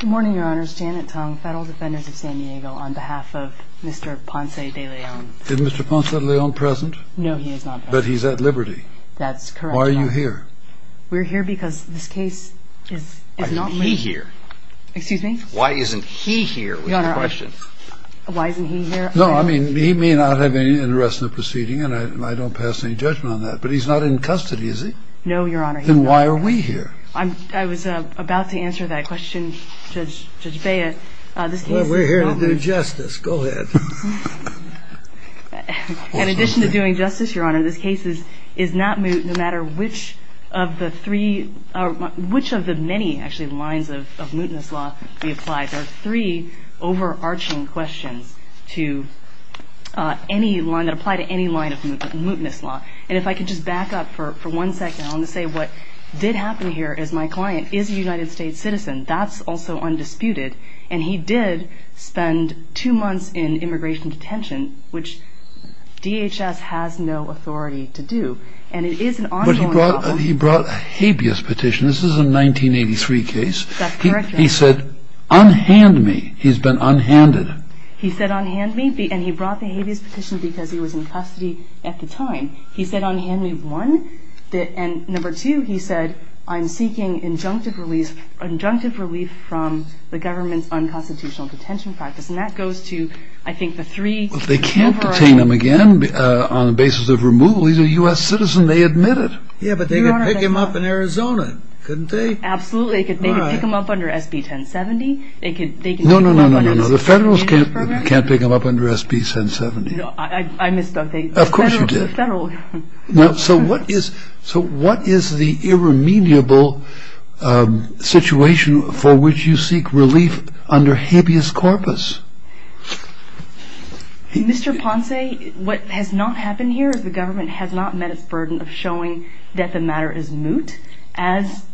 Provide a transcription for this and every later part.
Good morning, Your Honors. Janet Tong, Federal Defenders of San Diego, on behalf of Mr. Ponce De Leon. Is Mr. Ponce De Leon present? No, he is not present. But he's at liberty? That's correct, Your Honor. Why are you here? We're here because this case is not... Why isn't he here? Excuse me? Why isn't he here? Your Honor, I... We have a question. Why isn't he here? No, I mean, he may not have any interest in the proceeding, and I don't pass any judgment on that. But he's not in custody, is he? No, Your Honor, he's not. Then why are we here? I was about to answer that question, Judge Beyer. Well, we're here to do justice. Go ahead. In addition to doing justice, Your Honor, this case is not moot no matter which of the three... which of the many, actually, lines of mootness law be applied. There are three overarching questions to any line... that apply to any line of mootness law. And if I could just back up for one second. I want to say what did happen here is my client is a United States citizen. That's also undisputed. And he did spend two months in immigration detention, which DHS has no authority to do. And it is an ongoing problem. But he brought a habeas petition. This is a 1983 case. That's correct, Your Honor. He said, unhand me. He's been unhanded. He said unhand me, and he brought the habeas petition because he was in custody at the time. He said unhand me, one. And number two, he said, I'm seeking injunctive relief from the government's unconstitutional detention practice. And that goes to, I think, the three... Well, they can't detain him again on the basis of removal. He's a U.S. citizen. They admit it. Yeah, but they could pick him up in Arizona, couldn't they? Absolutely. They could pick him up under SB 1070. No, no, no, no, no, no, no. The federals can't pick him up under SB 1070. I misspoke. Of course you did. So what is the irremediable situation for which you seek relief under habeas corpus? Mr. Ponce, what has not happened here is the government has not met its burden of showing that the matter is moot, as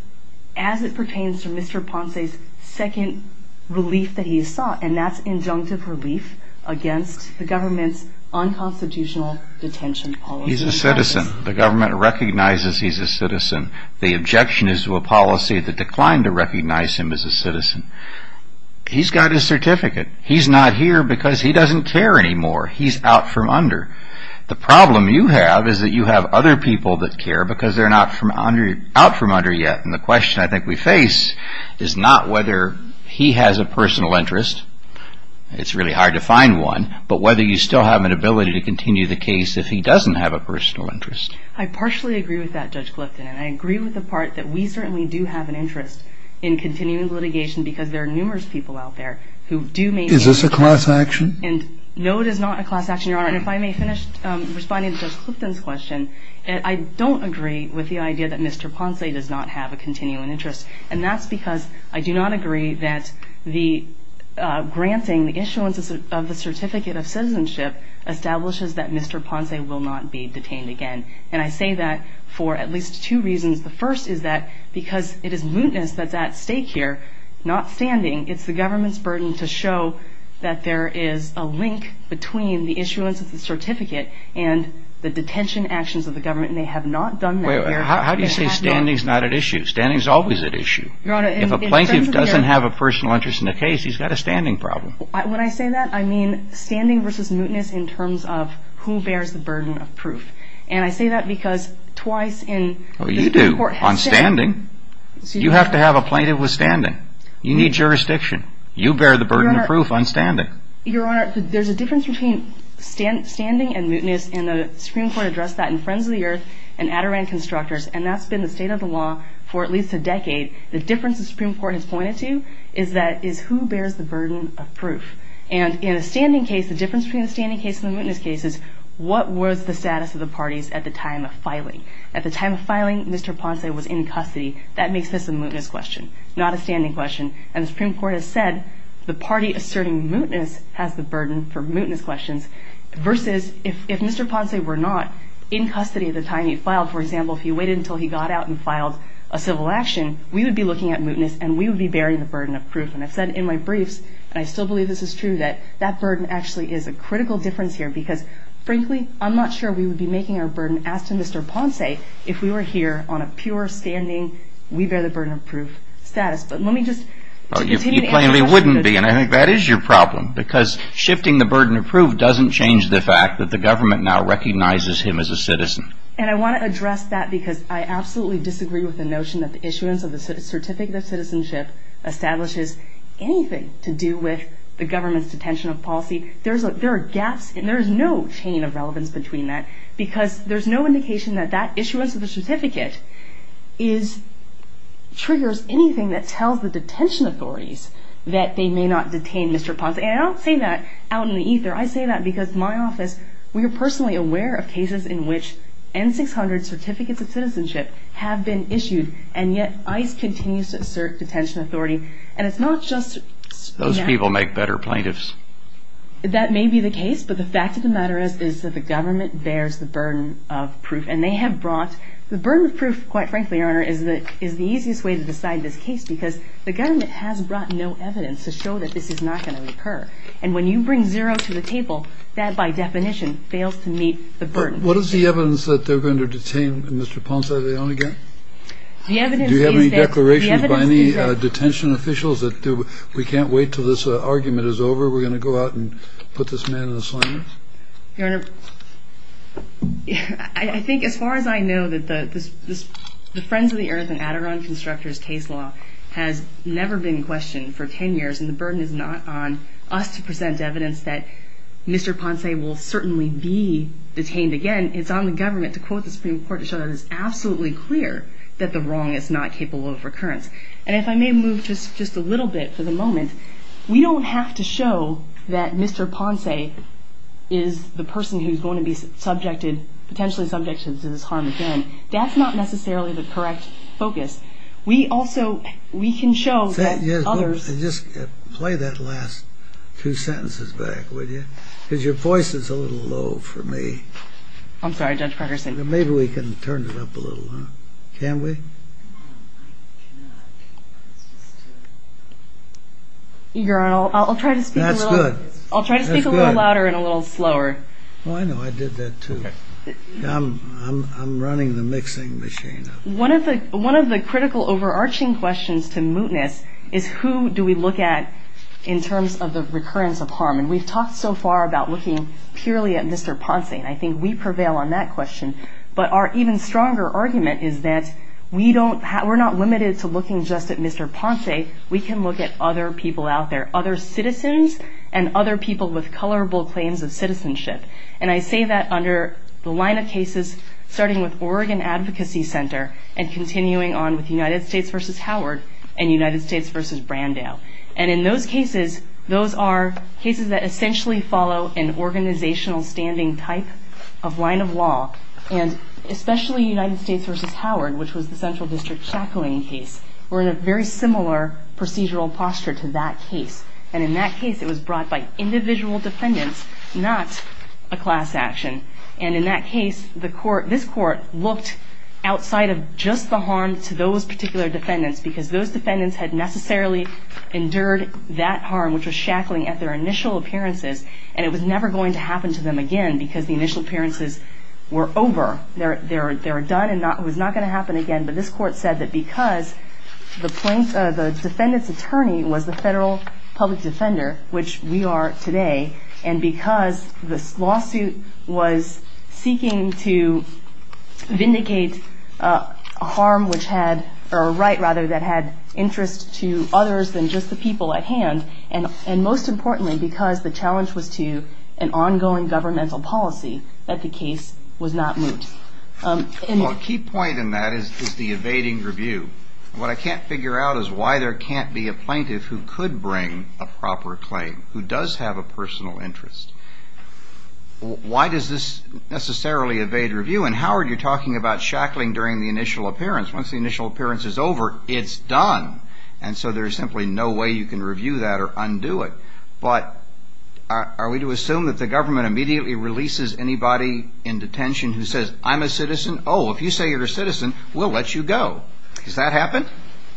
it pertains to Mr. Ponce's second relief that he has sought, and that's injunctive relief against the government's unconstitutional detention policy. He's a citizen. The government recognizes he's a citizen. The objection is to a policy that declined to recognize him as a citizen. He's got his certificate. He's not here because he doesn't care anymore. He's out from under. The problem you have is that you have other people that care because they're not out from under yet. And the question I think we face is not whether he has a personal interest. It's really hard to find one. But whether you still have an ability to continue the case if he doesn't have a personal interest. I partially agree with that, Judge Clifton. And I agree with the part that we certainly do have an interest in continuing litigation because there are numerous people out there who do maintain Is this a class action? And no, it is not a class action, Your Honor. And if I may finish responding to Judge Clifton's question, I don't agree with the idea that Mr. Ponce does not have a continuing interest. And that's because I do not agree that the granting the issuance of the certificate of citizenship establishes that Mr. Ponce will not be detained again. And I say that for at least two reasons. The first is that because it is mootness that's at stake here, not standing, it's the government's burden to show that there is a link between the issuance of the certificate and the detention actions of the government. And they have not done that here. How do you say standing is not at issue? Standing is always at issue. If a plaintiff doesn't have a personal interest in the case, he's got a standing problem. When I say that, I mean standing versus mootness in terms of who bears the burden of proof. And I say that because twice in the court has said Oh, you do, on standing. You have to have a plaintiff with standing. You need jurisdiction. You bear the burden of proof on standing. Your Honor, there's a difference between standing and mootness, and the Supreme Court addressed that in Friends of the Earth and Adirondack Constructors, and that's been the state of the law for at least a decade. The difference the Supreme Court has pointed to is who bears the burden of proof. And in a standing case, the difference between a standing case and a mootness case is what was the status of the parties at the time of filing. At the time of filing, Mr. Ponce was in custody. That makes this a mootness question, not a standing question. And the Supreme Court has said the party asserting mootness has the burden for mootness questions versus if Mr. Ponce were not in custody at the time he filed, for example, if he waited until he got out and filed a civil action, we would be looking at mootness and we would be bearing the burden of proof. And I've said in my briefs, and I still believe this is true, that that burden actually is a critical difference here because, frankly, I'm not sure we would be making our burden as to Mr. Ponce if we were here on a pure standing, we bear the burden of proof status. But let me just... You plainly wouldn't be, and I think that is your problem because shifting the burden of proof doesn't change the fact that the government now recognizes him as a citizen. And I want to address that because I absolutely disagree with the notion that the issuance of the Certificate of Citizenship establishes anything to do with the government's detention of policy. There are gaps and there is no chain of relevance between that because there's no indication that that issuance of the certificate triggers anything that tells the detention authorities that they may not detain Mr. Ponce. And I don't say that out in the ether. I say that because my office, we are personally aware of cases in which N-600 Certificates of Citizenship have been issued and yet ICE continues to assert detention authority. And it's not just... Those people make better plaintiffs. That may be the case, but the fact of the matter is that the government bears the burden of proof and they have brought... The burden of proof, quite frankly, Your Honor, is the easiest way to decide this case because the government has brought no evidence to show that this is not going to occur. And when you bring zero to the table, that, by definition, fails to meet the burden. What is the evidence that they're going to detain Mr. Ponce? Do you have any declarations by any detention officials that we can't wait until this argument is over? We're going to go out and put this man in a slammer? Your Honor, I think as far as I know, the Friends of the Earth and Adirondack Constructors case law has never been questioned for 10 years and the burden is not on us to present evidence that Mr. Ponce will certainly be detained again. It's on the government to quote the Supreme Court to show that it's absolutely clear that the wrong is not capable of recurrence. And if I may move just a little bit for the moment, we don't have to show that Mr. Ponce is the person who's going to be subjected, potentially subjected to this harm again. That's not necessarily the correct focus. We also, we can show that others... Just play that last two sentences back, would you? Because your voice is a little low for me. I'm sorry, Judge Parkerson. Maybe we can turn it up a little, huh? Can we? I cannot... Your Honor, I'll try to speak a little louder and a little slower. Oh, I know, I did that too. I'm running the mixing machine. One of the critical overarching questions to mootness is who do we look at in terms of the recurrence of harm? And we've talked so far about looking purely at Mr. Ponce and I think we prevail on that question. But our even stronger argument is that we don't... We're not limited to looking just at Mr. Ponce. We can look at other people out there, other citizens and other people with colorable claims of citizenship. And I say that under the line of cases starting with Oregon Advocacy Center and continuing on with United States v. Howard and United States v. Brandau. And in those cases, those are cases that essentially follow an organizational standing type of line of law and especially United States v. Howard, which was the Central District shackling case, were in a very similar procedural posture to that case. And in that case, it was brought by individual defendants, not a class action. And in that case, this court looked outside of just the harm to those particular defendants because those defendants had necessarily endured that harm, which was shackling at their initial appearances, and it was never going to happen to them again because the initial appearances were over. They were done and it was not going to happen again. But this court said that because the defendant's attorney was the federal public defender, which we are today, and because this lawsuit was seeking to vindicate a right that had interest to others than just the people at hand, and most importantly, because the challenge was to an ongoing governmental policy, that the case was not moot. Well, a key point in that is the evading review. What I can't figure out is why there can't be a plaintiff who could bring a proper claim, who does have a personal interest. Why does this necessarily evade review? And Howard, you're talking about shackling during the initial appearance. Once the initial appearance is over, it's done. And so there's simply no way you can review that or undo it. But are we to assume that the government immediately releases anybody in detention who says, I'm a citizen? Oh, if you say you're a citizen, we'll let you go. Has that happened?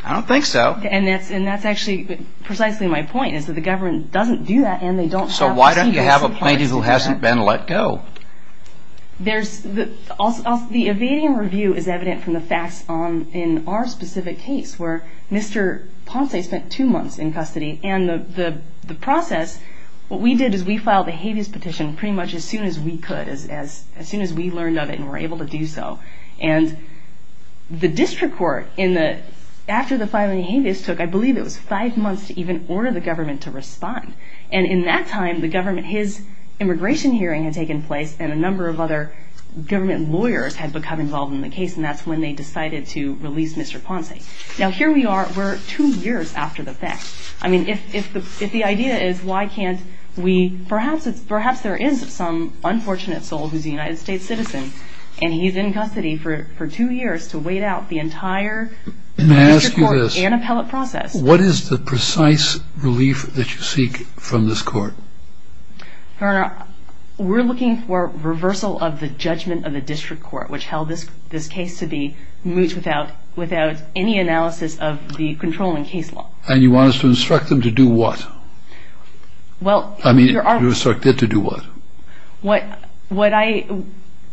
I don't think so. And that's actually precisely my point, is that the government doesn't do that and they don't have... So why don't you have a plaintiff who hasn't been let go? The evading review is evident from the facts in our specific case where Mr. Ponce spent two months in custody. And the process, what we did is we filed a habeas petition pretty much as soon as we could, as soon as we learned of it and were able to do so. And the district court, after the filing of habeas took, I believe it was five months to even order the government to respond. And in that time, his immigration hearing had taken place and a number of other government lawyers had become involved in the case and that's when they decided to release Mr. Ponce. Now here we are, we're two years after the fact. I mean, if the idea is why can't we... Perhaps there is some unfortunate soul who's a United States citizen and he's in custody for two years to wait out the entire district court and appellate process. May I ask you this? What is the precise relief that you seek from this court? Your Honor, we're looking for reversal of the judgment of the district court which held this case to be moot without any analysis of the controlling case law. And you want us to instruct them to do what? Well, Your Honor... I mean, to instruct them to do what? What I...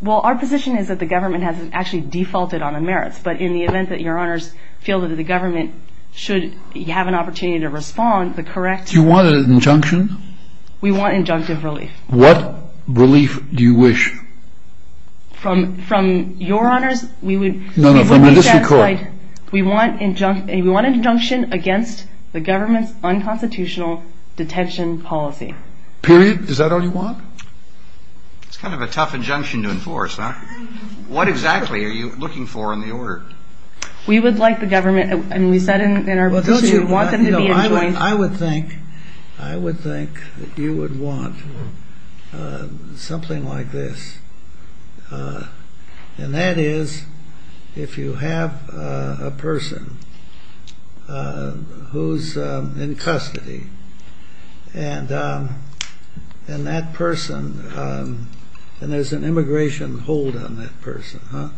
Well, our position is that the government has actually defaulted on the merits but in the event that Your Honors feel that the government should have an opportunity to respond, the correct... Do you want an injunction? We want injunctive relief. What relief do you wish? From Your Honors, we would... No, no, from the district court. We want an injunction against the government's unconstitutional detention policy. Period. Is that all you want? It's kind of a tough injunction to enforce, huh? What exactly are you looking for in the order? We would like the government... I mean, we said in our position we want them to be enjoined... I would think you would want something like this. And that is if you have a person who's in custody and that person... and there's an immigration hold on that person, huh?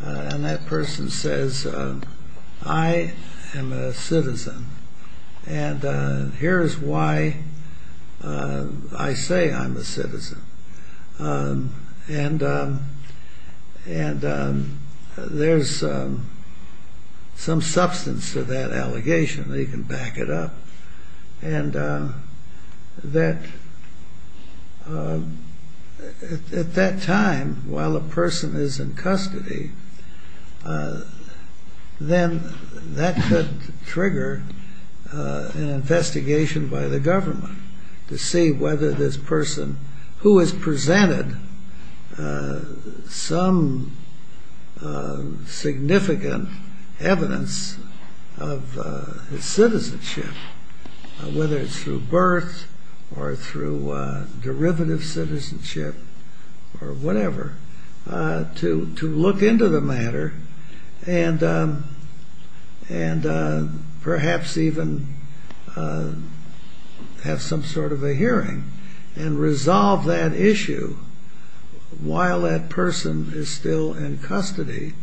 And that person says, I am a citizen and here's why I say I'm a citizen. And there's some substance to that allegation. You can back it up. And that... at that time, while a person is in custody, then that could trigger an investigation by the government to see whether this person who has presented some significant evidence of his citizenship, whether it's through birth or through derivative citizenship or whatever, to look into the matter and perhaps even have some sort of a hearing and resolve that issue while that person is still in custody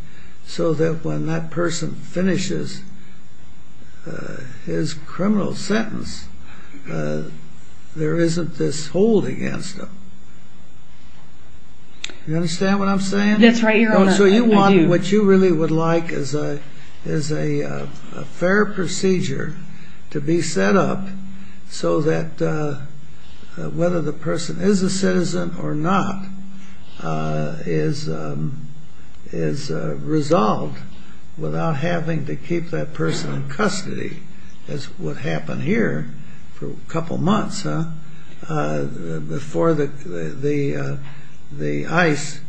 so that when that person finishes his criminal sentence, there isn't this hold against them. You understand what I'm saying? That's right, Your Honor, I do. So you want what you really would like as a fair procedure to be set up so that whether the person is a citizen or not is resolved without having to keep that person in custody. That's what happened here for a couple months, huh? Before the ICE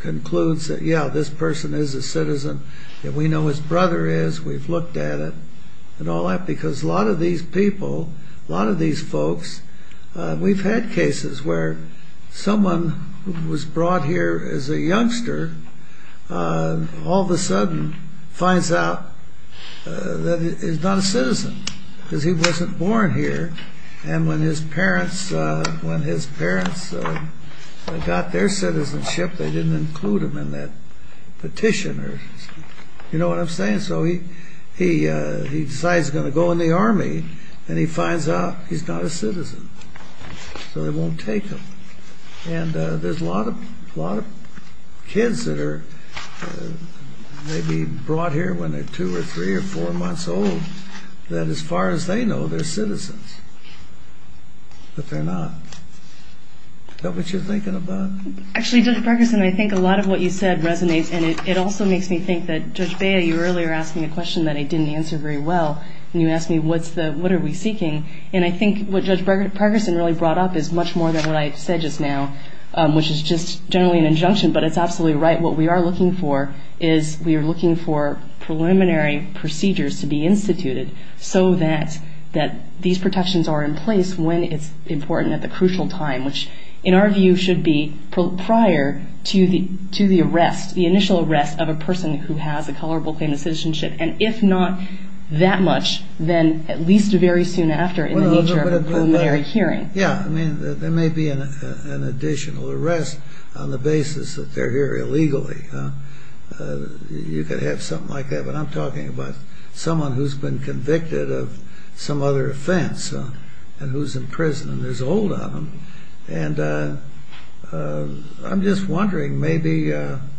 concludes that, yeah, this person is a citizen and we know his brother is, we've looked at it and all that because a lot of these people, a lot of these folks, we've had cases where someone who was brought here as a youngster all of a sudden finds out that he's not a citizen because he wasn't born here and when his parents got their citizenship, they didn't include him in that petition. You know what I'm saying? So he decides he's going to go in the Army and he finds out he's not a citizen, so they won't take him. And there's a lot of kids that are maybe brought here when they're two or three or four months old that as far as they know, they're citizens, but they're not. Is that what you're thinking about? Actually, Judge Pregerson, I think a lot of what you said resonates and it also makes me think that, Judge Bea, you earlier asked me a question that I didn't answer very well and you asked me what are we seeking and I think what Judge Pregerson really brought up is much more than what I said just now, which is just generally an injunction, but it's absolutely right. What we are looking for is we are looking for preliminary procedures to be instituted so that these protections are in place when it's important at the crucial time, which in our view should be prior to the arrest, the initial arrest of a person who has a colorable claim to citizenship and if not that much, then at least very soon after in the nature of a preliminary hearing. Yeah, I mean, there may be an additional arrest on the basis that they're here illegally. You could have something like that, but I'm talking about someone who's been convicted of some other offense and who's in prison and is old on them and I'm just wondering maybe the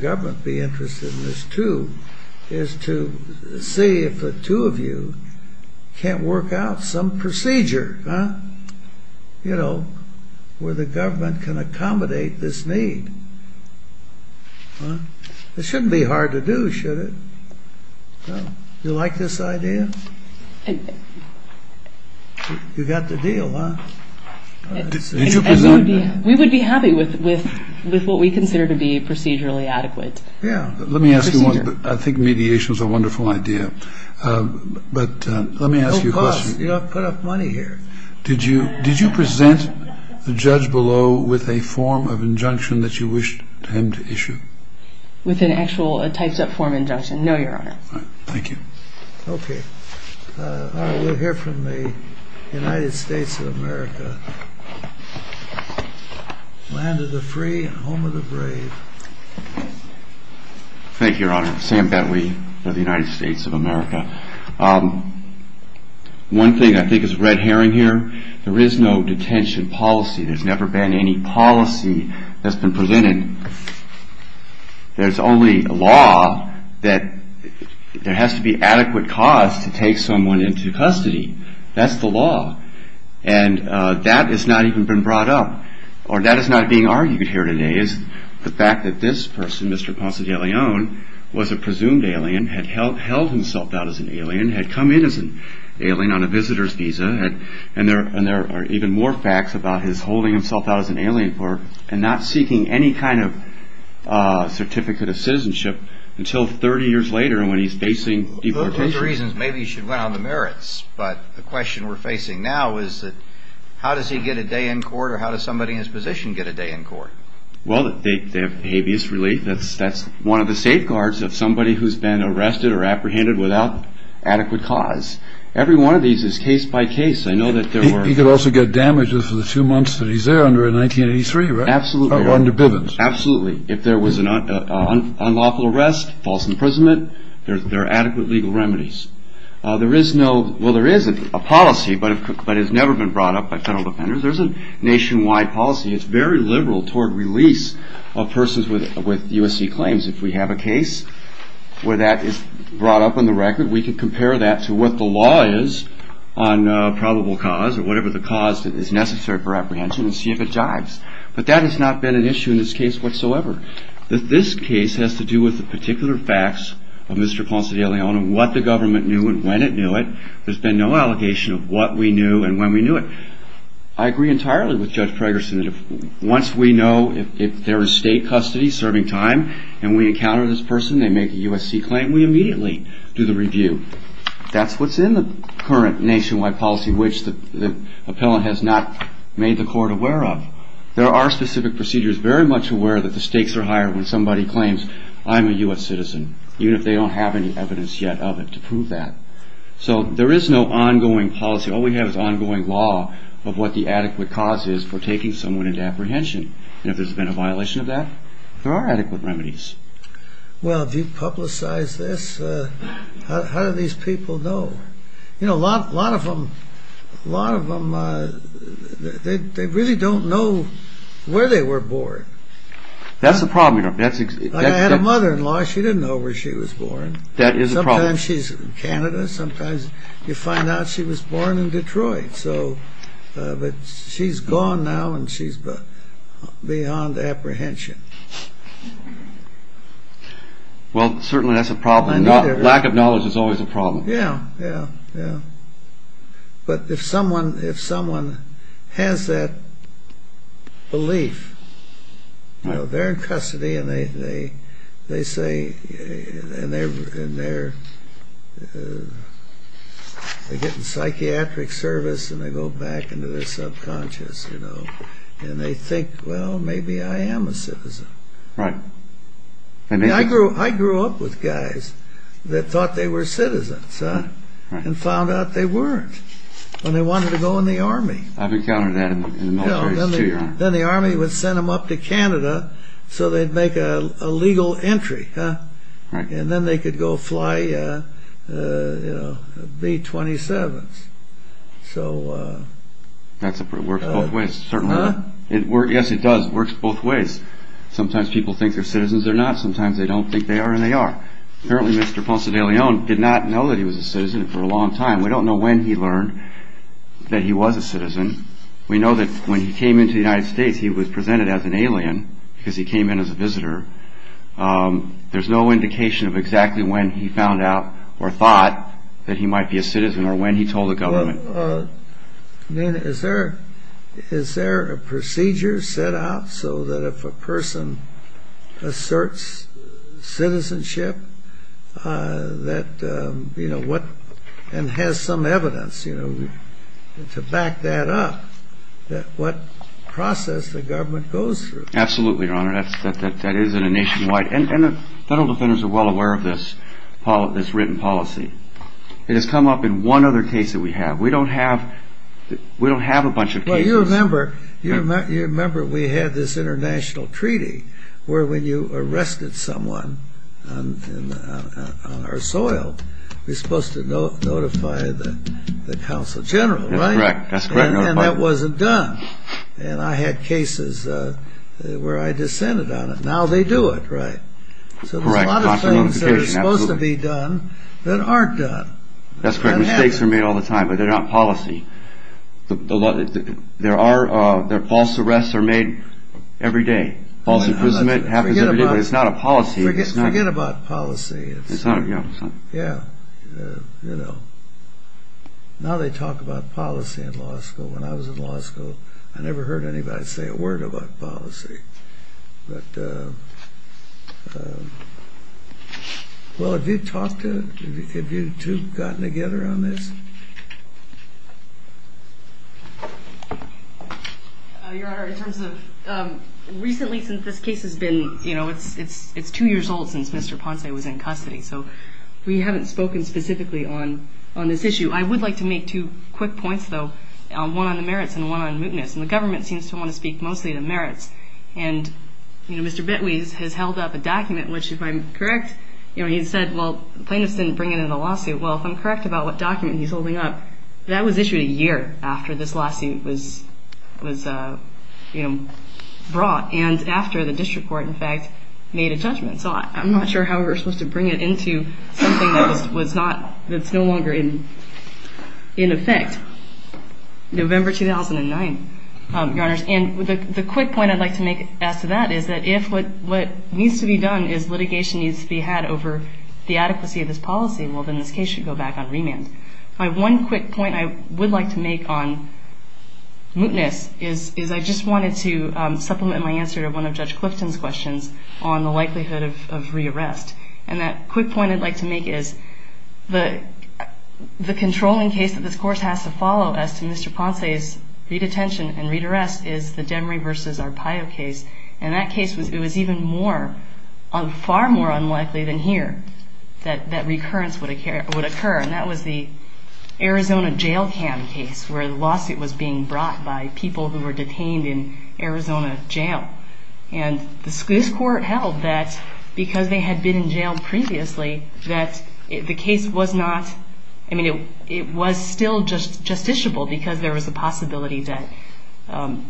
government would be interested in this too, is to see if the two of you can't work out some procedure, you know, where the government can accommodate this need. It shouldn't be hard to do, should it? Do you like this idea? You got the deal, huh? We would be happy with what we consider to be procedurally adequate. Yeah, let me ask you one. I think mediation is a wonderful idea, but let me ask you a question. No, boss, you don't put up money here. Did you present the judge below with a form of injunction that you wished him to issue? With an actual, a typed-up form injunction? No, Your Honor. Thank you. Okay. We'll hear from the United States of America. Land of the free, home of the brave. Thank you, Your Honor. Sam Bentley of the United States of America. One thing I think is red herring here, there is no detention policy. There's never been any policy that's been presented. And there's only a law that there has to be adequate cause to take someone into custody. That's the law. And that has not even been brought up. Or that is not being argued here today, is the fact that this person, Mr. Ponce de Leon, was a presumed alien, had held himself out as an alien, had come in as an alien on a visitor's visa, and there are even more facts about his holding himself out as an alien and not seeking any kind of certificate of citizenship until 30 years later when he's facing deportation. One of the reasons, maybe you should run on the merits, but the question we're facing now is that, how does he get a day in court or how does somebody in his position get a day in court? Well, they have habeas relief. That's one of the safeguards of somebody who's been arrested or apprehended without adequate cause. Every one of these is case by case. I know that there were... Absolutely. If there was an unlawful arrest, false imprisonment, there are adequate legal remedies. There is no... Well, there is a policy, but it's never been brought up by federal defenders. There's a nationwide policy. It's very liberal toward release of persons with USC claims. If we have a case where that is brought up on the record, we can compare that to what the law is on probable cause or whatever the cause is necessary for apprehension and see if it jives. But that has not been an issue in this case whatsoever. This case has to do with the particular facts of Mr. Ponce de Leon and what the government knew and when it knew it. There's been no allegation of what we knew and when we knew it. I agree entirely with Judge Fragerson that once we know if there is state custody serving time and we encounter this person, they make a USC claim, we immediately do the review. That's what's in the current nationwide policy, which the appellant has not made the court aware of. There are specific procedures very much aware that the stakes are higher when somebody claims, I'm a U.S. citizen, even if they don't have any evidence yet of it to prove that. So there is no ongoing policy. All we have is ongoing law of what the adequate cause is for taking someone into apprehension. And if there's been a violation of that, there are adequate remedies. Well, if you publicize this, how do these people know? A lot of them really don't know where they were born. That's the problem. I had a mother-in-law, she didn't know where she was born. Sometimes she's in Canada, sometimes you find out she was born in Detroit. But she's gone now and she's beyond apprehension. Well, certainly that's a problem. Lack of knowledge is always a problem. Yeah, yeah, yeah. But if someone has that belief, they're in custody and they're getting psychiatric service and they go back into their subconscious, and they think, well, maybe I am a citizen. Right. I grew up with guys that thought they were citizens and found out they weren't when they wanted to go in the Army. I've encountered that in the militaries, too, Your Honor. Then the Army would send them up to Canada so they'd make a legal entry. And then they could go fly B-27s. That works both ways. Yes, it does. It works both ways. Sometimes people think they're citizens, they're not. Sometimes they don't think they are, and they are. Apparently Mr. Ponce de Leon did not know that he was a citizen for a long time. We don't know when he learned that he was a citizen. We know that when he came into the United States, he was presented as an alien because he came in as a visitor. There's no indication of exactly when he found out or thought that he might be a citizen or when he told the government. Is there a procedure set out so that if a person asserts citizenship and has some evidence to back that up, what process the government goes through? Absolutely, Your Honor. That is a nationwide... And the federal defenders are well aware of this written policy. It has come up in one other case that we have. We don't have a bunch of cases. You remember we had this international treaty where when you arrested someone on our soil, you're supposed to notify the Consul General, right? That's correct. And that wasn't done. And I had cases where I dissented on it. Now they do it, right. So there's a lot of things that are supposed to be done that aren't done. That's correct. Mistakes are made all the time, but they're not policy. False arrests are made every day. False imprisonment happens every day, but it's not a policy. Forget about policy. Now they talk about policy in law school. When I was in law school, I never heard anybody say a word about policy. Well, have you talked to... Have you two gotten together on this? Your Honor, in terms of... Recently since this case has been... It's two years old since Mr. Ponce was in custody. So we haven't spoken specifically on this issue. I would like to make two quick points, though. One on the merits and one on mootness. And the government seems to want to speak mostly to merits. And, you know, Mr. Betweze has held up a document, which, if I'm correct, you know, he said, well, plaintiffs didn't bring it into the lawsuit. Well, if I'm correct about what document he's holding up, that was issued a year after this lawsuit was, you know, brought, and after the district court, in fact, made a judgment. So I'm not sure how we were supposed to bring it into something that's no longer in effect. November 2009, Your Honors. And the quick point I'd like to make as to that is that if what needs to be done is litigation needs to be had over the adequacy of this policy, well, then this case should go back on remand. My one quick point I would like to make on mootness is I just wanted to supplement my answer to one of Judge Clifton's questions on the likelihood of re-arrest. And that quick point I'd like to make is the controlling case that this course has to follow as to Mr. Ponce's re-detention and re-arrest is the Demery v. Arpaio case. And that case was even more, far more unlikely than here that recurrence would occur. And that was the Arizona jail cam case where the lawsuit was being brought by people who were detained in Arizona jail. And this court held that because they had been in jail previously that the case was not, I mean, it was still just justiciable because there was a possibility that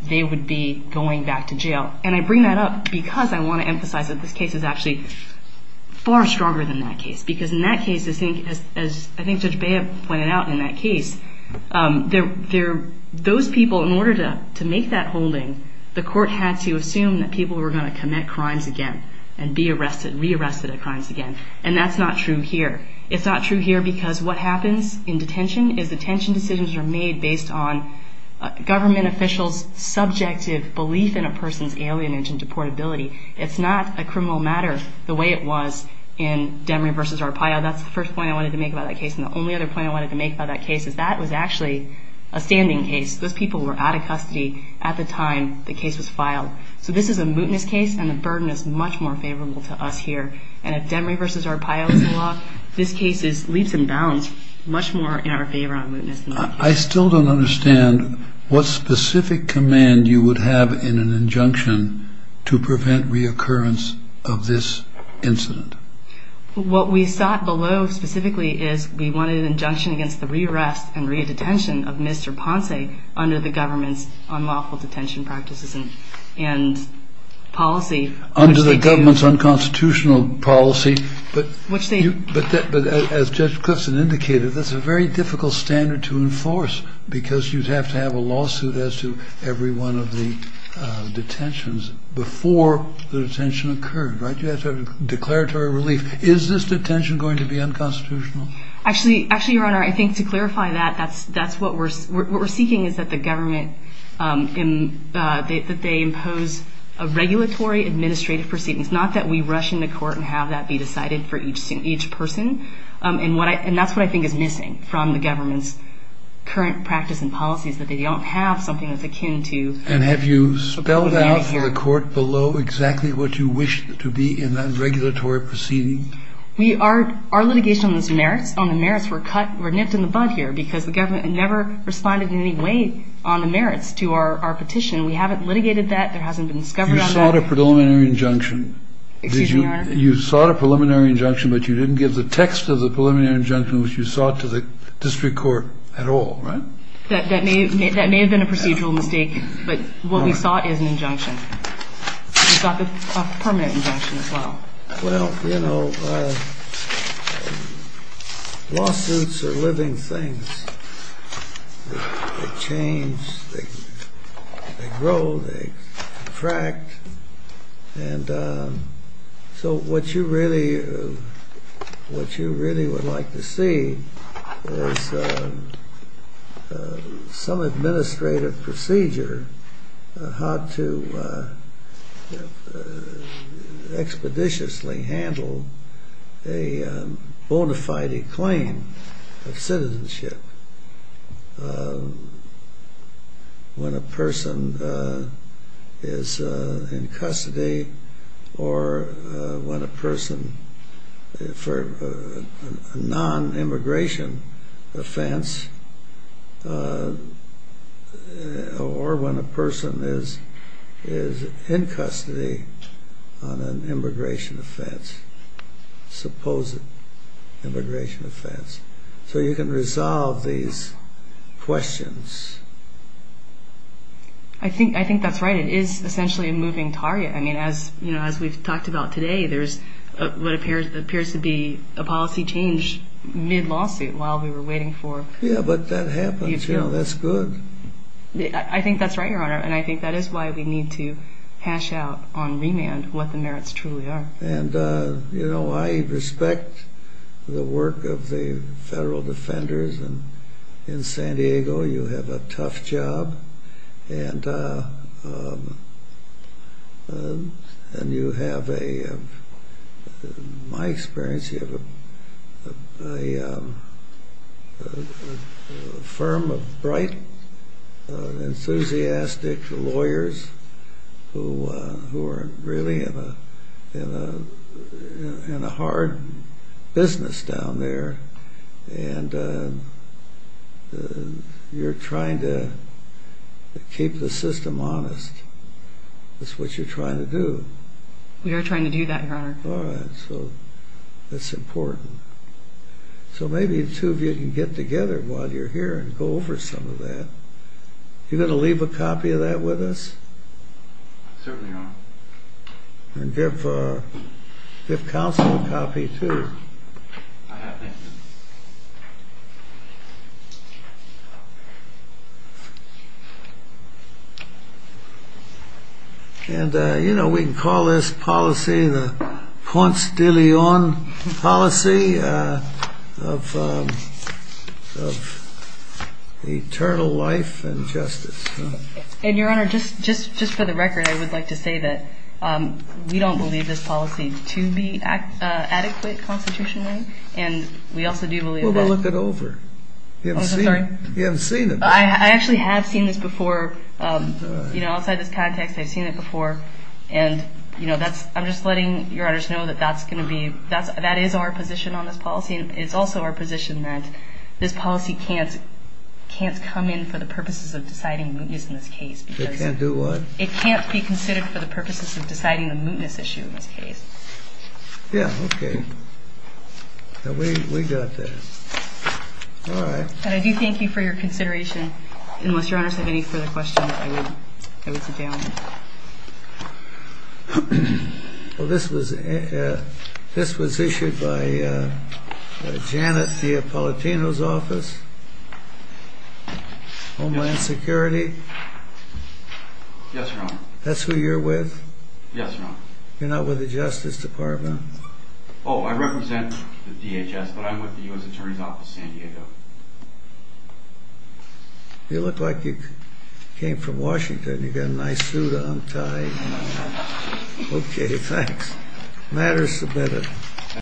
they would be going back to jail. And I bring that up because I want to emphasize that this case is actually far stronger than that case. Because in that case, as I think Judge Bayh pointed out in that case, those people, in order to make that holding, the court had to assume that people were going to commit crimes again and be arrested, re-arrested at crimes again. And that's not true here. It's not true here because what happens in detention is detention decisions are made based on government officials' subjective belief in a person's alienation to portability. It's not a criminal matter the way it was in Demery v. Arpaio. That's the first point I wanted to make about that case. And the only other point I wanted to make about that case is that was actually a standing case. Those people were out of custody at the time the case was filed. So this is a mootness case, and the burden is much more favorable to us here. And if Demery v. Arpaio is the law, this case is leaps and bounds much more in our favor on mootness. I still don't understand what specific command you would have in an injunction to prevent reoccurrence of this incident. What we sought below specifically is we wanted an injunction against the re-arrest and re-detention of Mr. Ponce under the government's unlawful detention practices and policy. Under the government's unconstitutional policy, but as Judge Clifton indicated, that's a very difficult standard to enforce because you'd have to have a lawsuit as to every one of the detentions before the detention occurred, right? You have to have declaratory relief. Is this detention going to be unconstitutional? Actually, Your Honor, I think to clarify that, what we're seeking is that the government impose a regulatory administrative proceeding. It's not that we rush into court and have that be decided for each person. And that's what I think is missing from the government's current practice and policy is that they don't have something that's akin to... And have you spelled out for the court below exactly what you wish to be in that regulatory proceeding? Our litigation on the merits were nipped in the bud here because the government never responded in any way on the merits to our petition. We haven't litigated that. There hasn't been discovered on that. You sought a preliminary injunction. Excuse me, Your Honor. You sought a preliminary injunction, but you didn't give the text of the preliminary injunction which you sought to the district court at all, right? That may have been a procedural mistake, but what we sought is an injunction. We sought a permanent injunction as well. Well, you know, lawsuits are living things. They change. They grow. They contract. And so what you really would like to see is some administrative procedure how to expeditiously handle a bona fide claim of citizenship when a person is in custody or when a person for a non-immigration offense or when a person is in custody on an immigration offense, supposed immigration offense, so you can resolve these questions. I think that's right. It is essentially a moving target. I mean, as we've talked about today, there's what appears to be a policy change mid-lawsuit while we were waiting for the appeal. Yeah, but that happens. You know, that's good. I think that's right, Your Honor, and I think that is why we need to hash out on remand what the merits truly are. And, you know, I respect the work of the federal defenders. In San Diego, you have a tough job, and you have a, in my experience, you have a firm of bright, enthusiastic lawyers who are really in a hard business down there, and you're trying to keep the system honest. That's what you're trying to do. All right, so that's important. So maybe the two of you can get together while you're here and go over some of that. You going to leave a copy of that with us? Certainly, Your Honor. And give counsel a copy, too. I have, thank you. And, you know, we can call this policy the Ponce de Leon policy of eternal life and justice. And, Your Honor, just for the record, I would like to say that we don't believe this policy to be adequate constitutionally, and we also do believe that. Well, look it over. You haven't seen it. I actually have seen this before. You know, outside this context, I've seen it before. And, you know, I'm just letting Your Honors know that that's going to be, that is our position on this policy, and it's also our position that this policy can't come in for the purposes of deciding mootness in this case. It can't do what? It can't be considered for the purposes of deciding the mootness issue in this case. Yeah, okay. We got that. All right. And I do thank you for your consideration. Unless Your Honors have any further questions, I would sit down. Well, this was issued by Janet DiAppolitino's office, Homeland Security. Yes, Your Honor. That's who you're with? Yes, Your Honor. You're not with the Justice Department? Oh, I represent the DHS, but I'm with the U.S. Attorney's Office, San Diego. You look like you came from Washington. You've got a nice suit on, tie. Okay, thanks. Matters submitted.